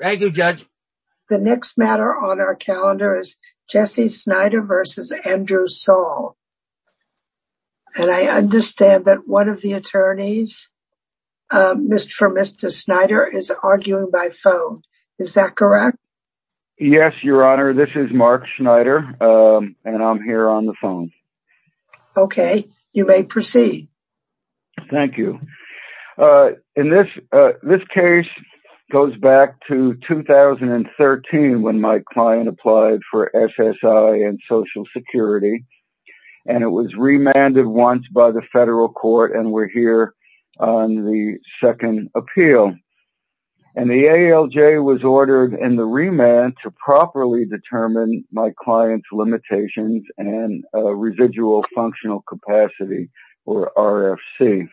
Thank you, Judge. The next matter on our calendar is Jesse Snyder versus Andrew Saul. And I understand that one of the attorneys for Mr. Snyder is arguing by phone. Is that correct? Yes, Your Honor. This is Mark Snyder and I'm here on the phone. Okay, you may proceed. Thank you. This case goes back to 2013 when my client applied for SSI and Social Security and it was remanded once by the federal court and we're here on the second appeal. And the ALJ was ordered in the remand to properly determine my client's limitations and residual functional capacity or RFC.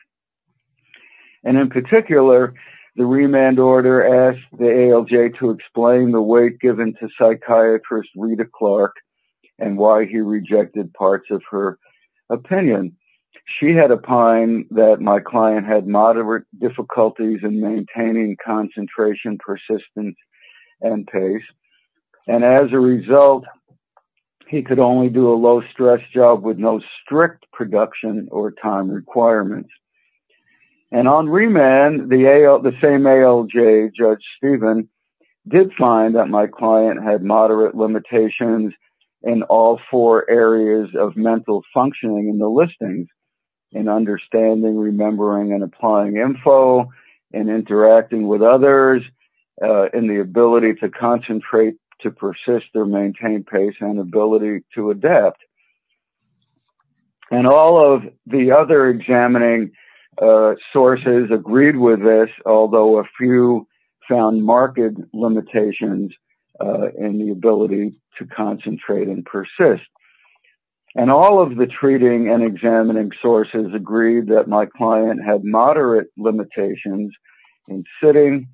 And in particular, the remand order asked the ALJ to explain the weight given to psychiatrist Rita Clark and why he rejected parts of her opinion. She had opined that my client had moderate difficulties in maintaining concentration, persistence, and pace. And as a production or time requirements. And on remand, the same ALJ, Judge Stephen, did find that my client had moderate limitations in all four areas of mental functioning in the listings, in understanding, remembering, and applying info, in interacting with others, in the ability to the other examining sources agreed with this, although a few found marked limitations in the ability to concentrate and persist. And all of the treating and examining sources agreed that my client had moderate limitations in sitting,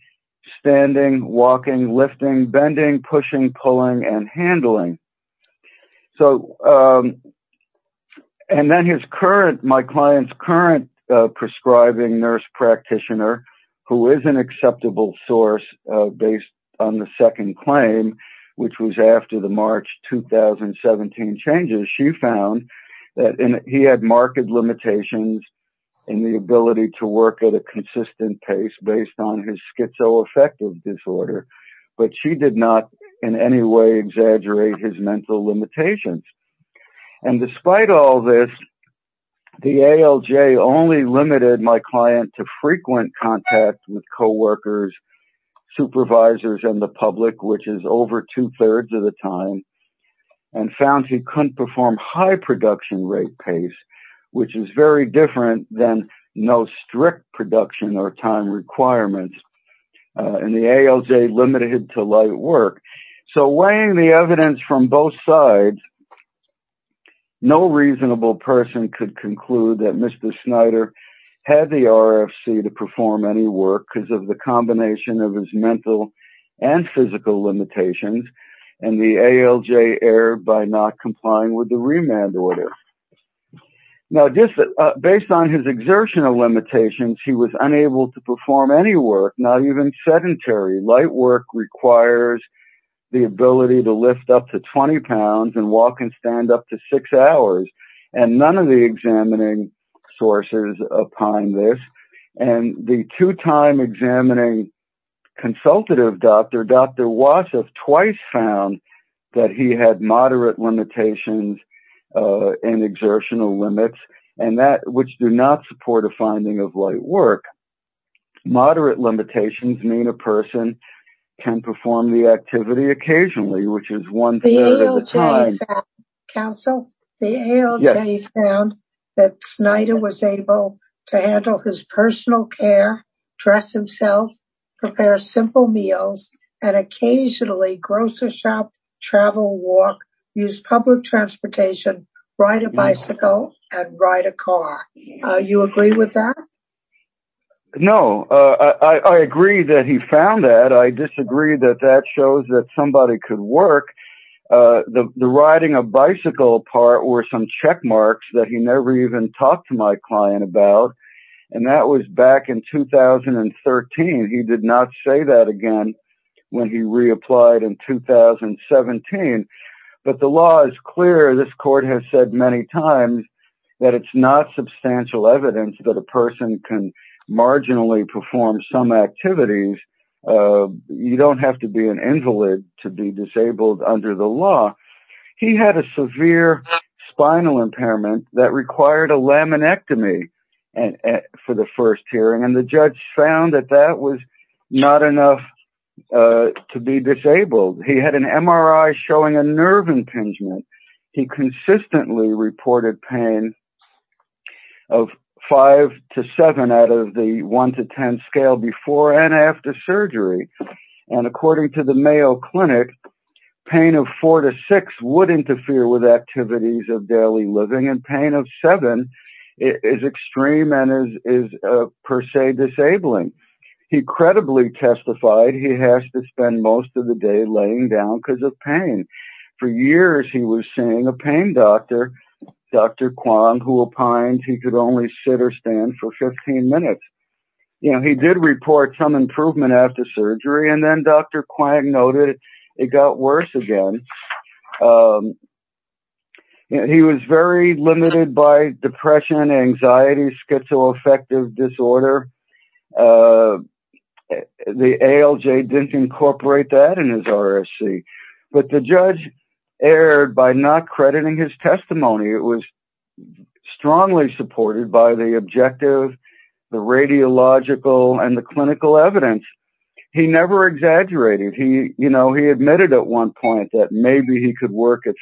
standing, walking, lifting, bending, pushing, pulling, and handling. And then my client's current prescribing nurse practitioner, who is an acceptable source based on the second claim, which was after the March 2017 changes, she found that he had marked limitations in the ability to work at a consistent pace based on his in any way exaggerate his mental limitations. And despite all this, the ALJ only limited my client to frequent contact with coworkers, supervisors, and the public, which is over two thirds of the time, and found he couldn't perform high production rate pace, which is very different than no strict production or time requirements. And the ALJ limited to light work. So weighing the evidence from both sides, no reasonable person could conclude that Mr. Snyder had the RFC to perform any work because of the combination of his mental and physical limitations and the ALJ error by not was unable to perform any work, not even sedentary. Light work requires the ability to lift up to 20 pounds and walk and stand up to six hours. And none of the examining sources opined this. And the two time examining consultative doctor, Dr. Wasif, twice found that he had moderate limitations and exertional limits and that which do not support a finding of light work. Moderate limitations mean a person can perform the activity occasionally, which is one third of the time. Counsel, the ALJ found that Snyder was able to handle his personal care, dress himself, prepare simple meals, and occasionally grocery shop, travel, walk, use public transportation, ride a bicycle and ride a car. You agree with that? No, I agree that he found that. I disagree that that shows that somebody could work. The riding a bicycle part were some check marks that he never even talked to my client about. And that was back in 2013. He did not say that again when he reapplied in 2017. But the law is clear. This court has said many times that it's not substantial evidence that a person can marginally perform some activities. You don't have to be an invalid to be disabled under the law. He had a severe spinal impairment that required a laminectomy for the first hearing. And the judge found that that was not enough to be disabled. He had an MRI showing a nerve impingement. He consistently reported pain of five to seven out of the one to ten scale before and after surgery. And according to the Mayo Clinic, pain of four to six would interfere with activities of daily living and pain of seven is extreme and is per se disabling. He credibly testified he has to spend most of the day laying down because of pain. For years he was seeing a pain doctor, Dr. Kwon, who opined he could only sit or stand for 15 minutes. He did report some improvement after surgery and then Dr. Kwong noted it got worse again. He was very limited by depression, anxiety, schizoaffective disorder. The ALJ didn't incorporate that in his RSC. But the judge erred by not crediting his testimony. It was strongly supported by the objective, the radiological, and the clinical evidence. He never exaggerated. He admitted at one point that maybe he could work at 50%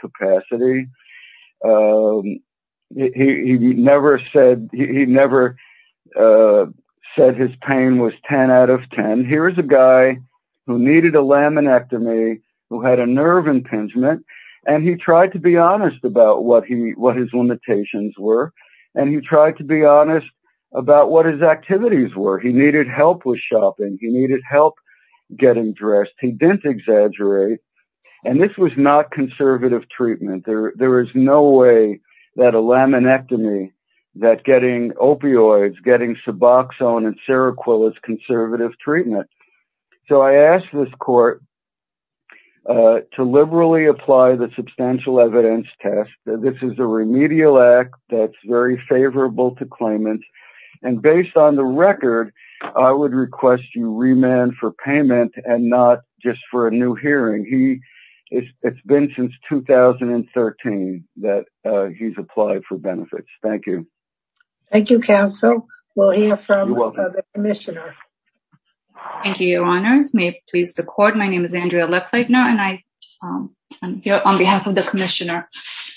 capacity. He never said his pain was 10 out of 10. Here is a guy who needed a laminectomy, who had a nerve impingement, and he tried to be honest about what his limitations were. And he tried to be honest about what his activities were. He needed help with shopping. He needed help getting dressed. He didn't exaggerate. And this was not conservative treatment. There is no way that a laminectomy, that getting opioids, getting Suboxone and to liberally apply the substantial evidence test. This is a remedial act that is very favorable to claimants. And based on the record, I would request you remand for payment and not just for a new hearing. It has been since 2013 that he has applied for benefits. Thank you. Thank you, counsel. We will hear from the commissioner. Thank you, your honors. May it please the court. My name is Andrea Leckleitner and I am here on behalf of the commissioner.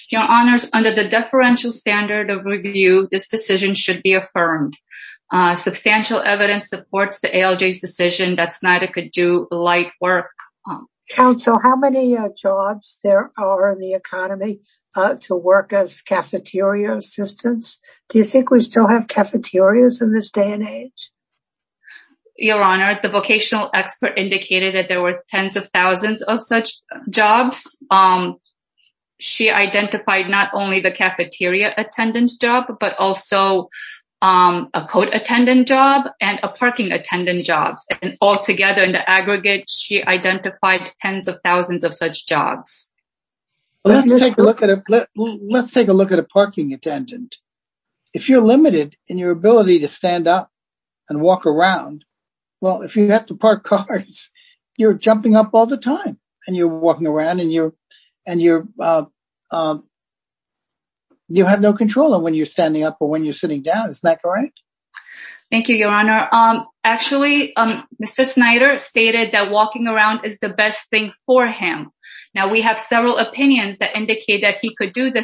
Your honors, under the deferential standard of review, this decision should be affirmed. Substantial evidence supports the ALJ's decision that Snyder could do light work. Counsel, how many jobs there are in the economy to work as cafeteria assistants? Do you think we still have cafeterias in this day and age? Your honor, the vocational expert indicated that there were tens of thousands of such jobs. She identified not only the cafeteria attendance job, but also a code attendant job and a parking attendant jobs. And altogether in the aggregate, she identified tens of thousands of such jobs. Let's take a look at a parking attendant. If you're limited in your ability to stand up and walk around, well, if you have to park cars, you're jumping up all the time and you're walking around and you have no control of when you're standing up or when you're sitting down. Is that correct? Thank you, your honor. Actually, Mr. Snyder stated that walking around is the best thing for him. Now we have several opinions that indicate that he could do the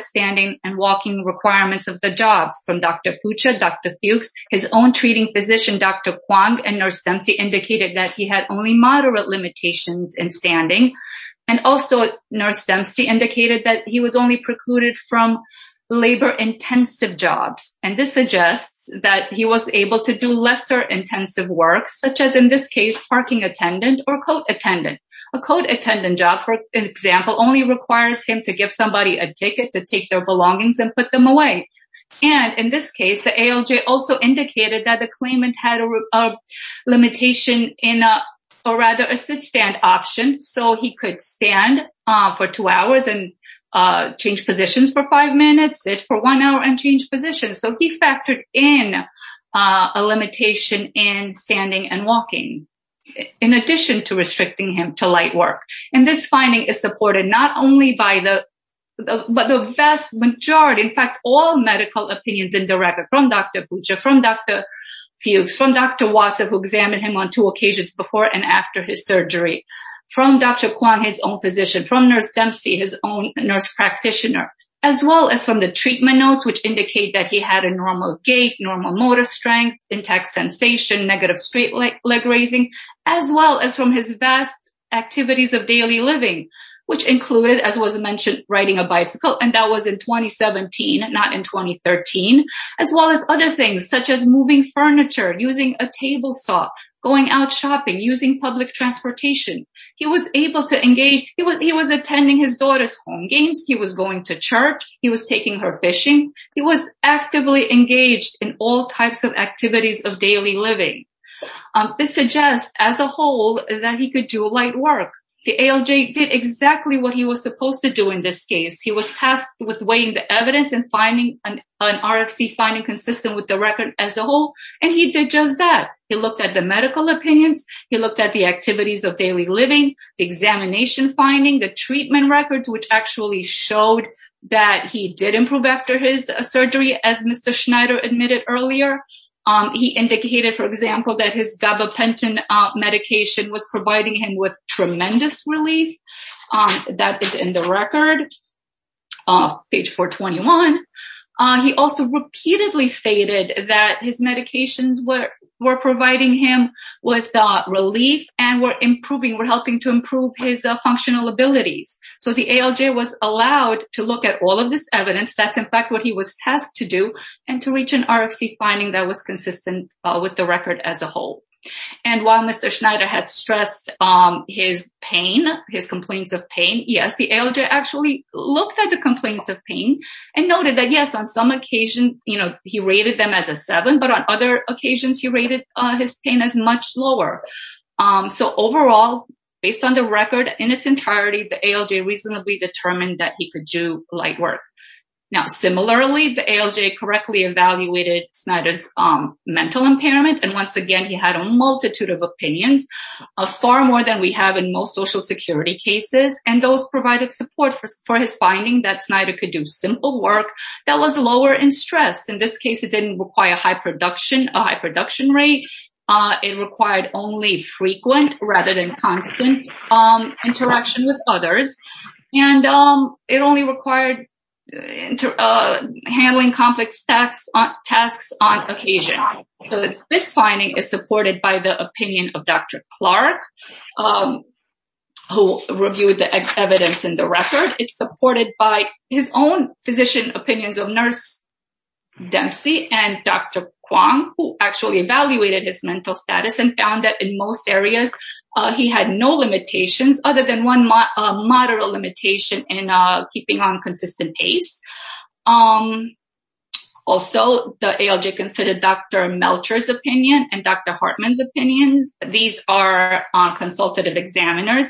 Dr. Fuchs, his own treating physician, Dr. Kwong, and Nurse Dempsey indicated that he had only moderate limitations in standing. And also Nurse Dempsey indicated that he was only precluded from labor intensive jobs. And this suggests that he was able to do lesser intensive work, such as in this case, parking attendant or code attendant. A code attendant job, for example, only requires him to give somebody a ticket to take their belongings and put them away. And in this case, the ALJ also indicated that the claimant had a limitation in a, or rather a sit-stand option. So he could stand for two hours and change positions for five minutes, sit for one hour and change positions. So he factored in a limitation in standing and walking in addition to restricting him to light work. And this finding is supported not only by but the vast majority, in fact, all medical opinions in the record from Dr. Boucher, from Dr. Fuchs, from Dr. Wasif who examined him on two occasions before and after his surgery, from Dr. Kwong, his own physician, from Nurse Dempsey, his own nurse practitioner, as well as from the treatment notes, which indicate that he had a normal gait, normal motor strength, intact sensation, negative straight leg raising, as well as from his vast of daily living, which included, as was mentioned, riding a bicycle, and that was in 2017, not in 2013, as well as other things such as moving furniture, using a table saw, going out shopping, using public transportation. He was able to engage. He was attending his daughter's home games. He was going to church. He was taking her fishing. He was actively engaged in all types of activities of daily living. This suggests, as a whole, that he could do light work. The ALJ did exactly what he was supposed to do in this case. He was tasked with weighing the evidence and an RFC finding consistent with the record as a whole, and he did just that. He looked at the medical opinions. He looked at the activities of daily living, the examination finding, the treatment records, which actually showed that he did improve after his surgery, as Mr. He indicated, for example, that his gabapentin medication was providing him with tremendous relief. That is in the record, page 421. He also repeatedly stated that his medications were providing him with relief and were improving, were helping to improve his functional abilities. So, the ALJ was allowed to look at all of this evidence. That's, in fact, what he was tasked to and to reach an RFC finding that was consistent with the record as a whole. While Mr. Schneider had stressed his complaints of pain, yes, the ALJ actually looked at the complaints of pain and noted that, yes, on some occasions, he rated them as a seven, but on other occasions, he rated his pain as much lower. So, overall, based on the record in its entirety, the ALJ reasonably determined that he could do light work. Now, similarly, the ALJ correctly evaluated Schneider's mental impairment, and once again, he had a multitude of opinions, far more than we have in most social security cases, and those provided support for his finding that Schneider could do simple work that was lower in stress. In this case, it didn't require a high production rate. It required only frequent rather than constant interaction with complex tasks on occasion. This finding is supported by the opinion of Dr. Clark, who reviewed the evidence in the record. It's supported by his own physician opinions of nurse Dempsey and Dr. Kwong, who actually evaluated his mental status and found that in most areas, he had no limitations other than one moderate limitation in keeping on consistent pace. Also, the ALJ considered Dr. Melcher's opinion and Dr. Hartman's opinions. These are consultative examiners,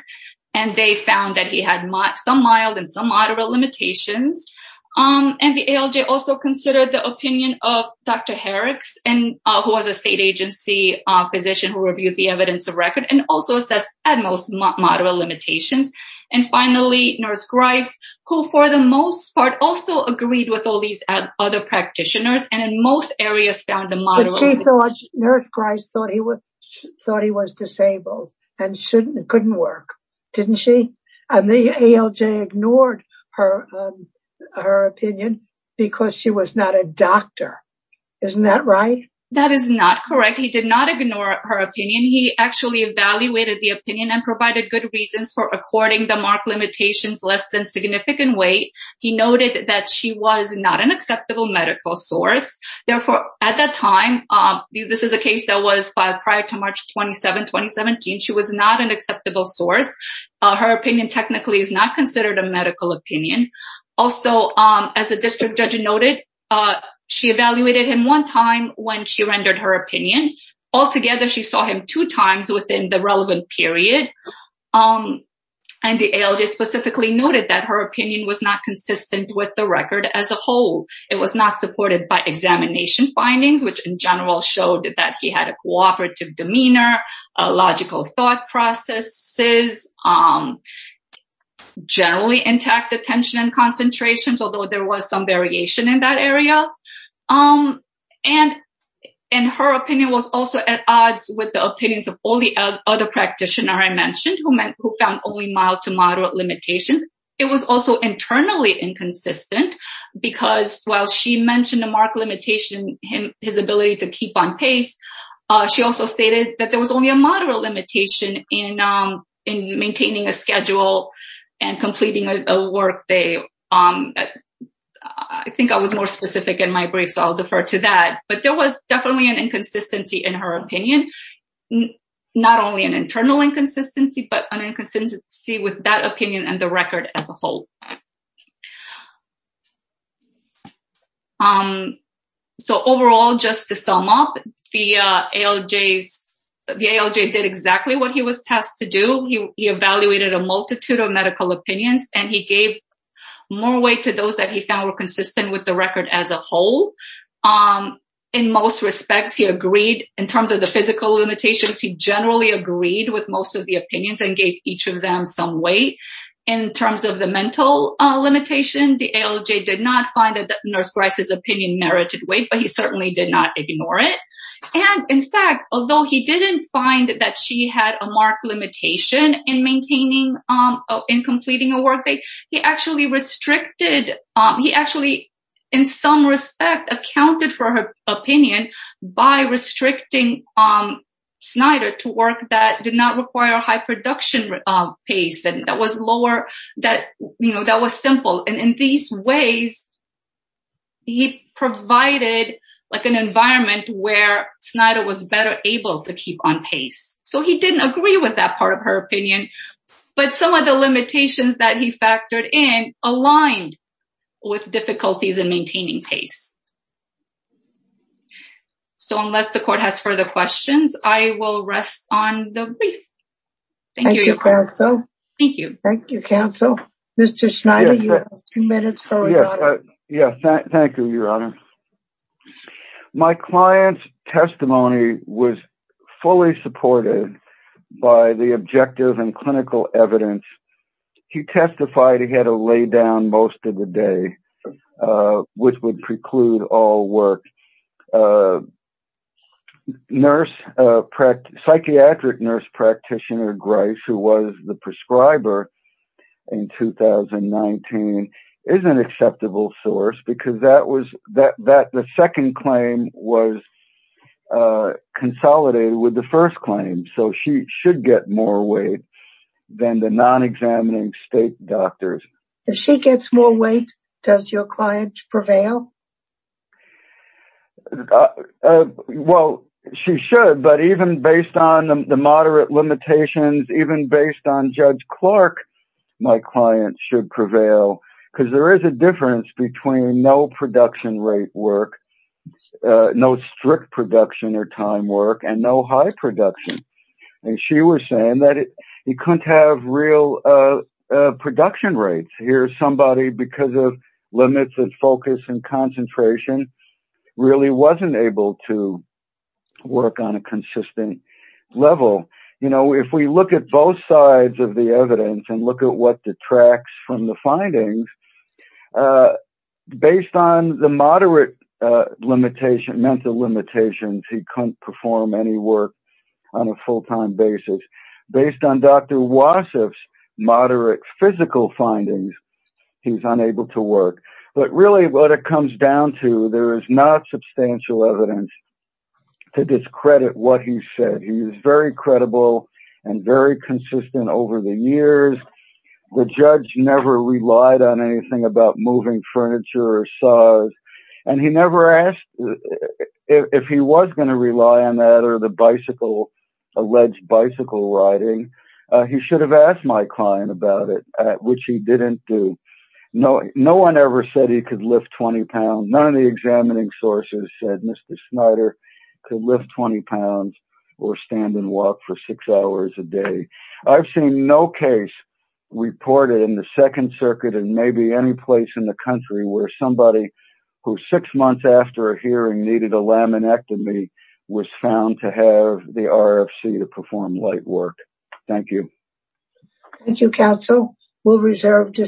and they found that he had some mild and some moderate limitations, and the ALJ also considered the opinion of Dr. Harris, who was a state agency physician who reviewed the evidence of record and also assessed at most moderate limitations, and finally, nurse Grice, who for the most part also agreed with all these other practitioners and in most areas found a moderate limitation. But she thought, nurse Grice thought he was disabled and couldn't work, didn't she? And the ALJ ignored her opinion because she was not a doctor. Isn't that right? That is not correct. He did not ignore her opinion. He actually evaluated the opinion and provided good reasons for according the marked limitations less than significant weight. He noted that she was not an acceptable medical source. Therefore, at that time, this is a case that was filed prior to March 27, 2017. She was not an acceptable source. Her opinion technically is not considered a medical opinion. Also, as a district judge noted, she evaluated him one time when she rendered her opinion. Altogether, she saw him two times within the relevant period. And the ALJ specifically noted that her opinion was not consistent with the record as a whole. It was not supported by examination findings, which in general showed that he had a cooperative demeanor, logical thought processes, generally intact attention and concentrations, although there was some variation in that area. And her opinion was at odds with the opinions of all the other practitioners I mentioned who found only mild to moderate limitations. It was also internally inconsistent because while she mentioned the marked limitation, his ability to keep on pace, she also stated that there was only a moderate limitation in maintaining a schedule and completing a workday. I think I was more in her opinion, not only an internal inconsistency, but an inconsistency with that opinion and the record as a whole. So overall, just to sum up, the ALJ did exactly what he was tasked to do. He evaluated a multitude of medical opinions and he gave more weight to those that he found were consistent with the record as a whole. In most respects, he agreed in terms of the physical limitations, he generally agreed with most of the opinions and gave each of them some weight. In terms of the mental limitation, the ALJ did not find that Nurse Grice's opinion merited weight, but he certainly did not ignore it. And in fact, although he didn't find that she had a marked limitation in maintaining, in completing a workday, he actually restricted, he actually, in some respect, accounted for her opinion by restricting Snyder to work that did not require high production pace and that was lower, that was simple. And in these ways, he provided an environment where Snyder was better able to keep on pace. So he didn't agree with that part of her opinion, but some of the limitations that he factored in aligned with difficulties in maintaining pace. So unless the court has further questions, I will rest on the brief. Thank you, counsel. Thank you, counsel. Mr. Snyder, you have two minutes. Yes, thank you, your honor. My client's testimony was fully supported by the objective and clinical evidence. He testified he had to lay down most of the day, which would preclude all work. A nurse, psychiatric nurse practitioner, Grace, who was the prescriber in 2019, is an acceptable source because that was, that the second claim was consolidated with the first claim. So she should get more weight than the non-examining state doctors. If she gets more weight, does your client prevail? Uh, well, she should, but even based on the moderate limitations, even based on Judge Clark, my client should prevail because there is a difference between no production rate work, no strict production or time work, and no high production. And she was saying that he couldn't have real production rates. Here's somebody because of limits of focus and concentration really wasn't able to work on a consistent level. You know, if we look at both sides of the evidence and look at what detracts from the findings, uh, based on the moderate, uh, limitation, mental limitations, he couldn't perform any work on a full-time basis. Based on Dr. Wasif's moderate physical findings, he's unable to work. But really what it comes down to, there is not substantial evidence to discredit what he said. He was very credible and very consistent over the years. The judge never relied on anything about moving furniture or saws, and he never asked if he was going to rely on that or the bicycle, alleged bicycle riding. He should have asked my client about it, which he didn't do. No, no one ever said he could lift 20 pounds. None of the examining sources said Mr. Snyder could lift 20 pounds or stand and walk for six hours a day. I've seen no case reported in the Second Circuit and maybe any place in the country where somebody who six months after a hearing needed a laminectomy was found to have the RFC to perform light work. Thank you. Thank you, counsel. We'll reserve this.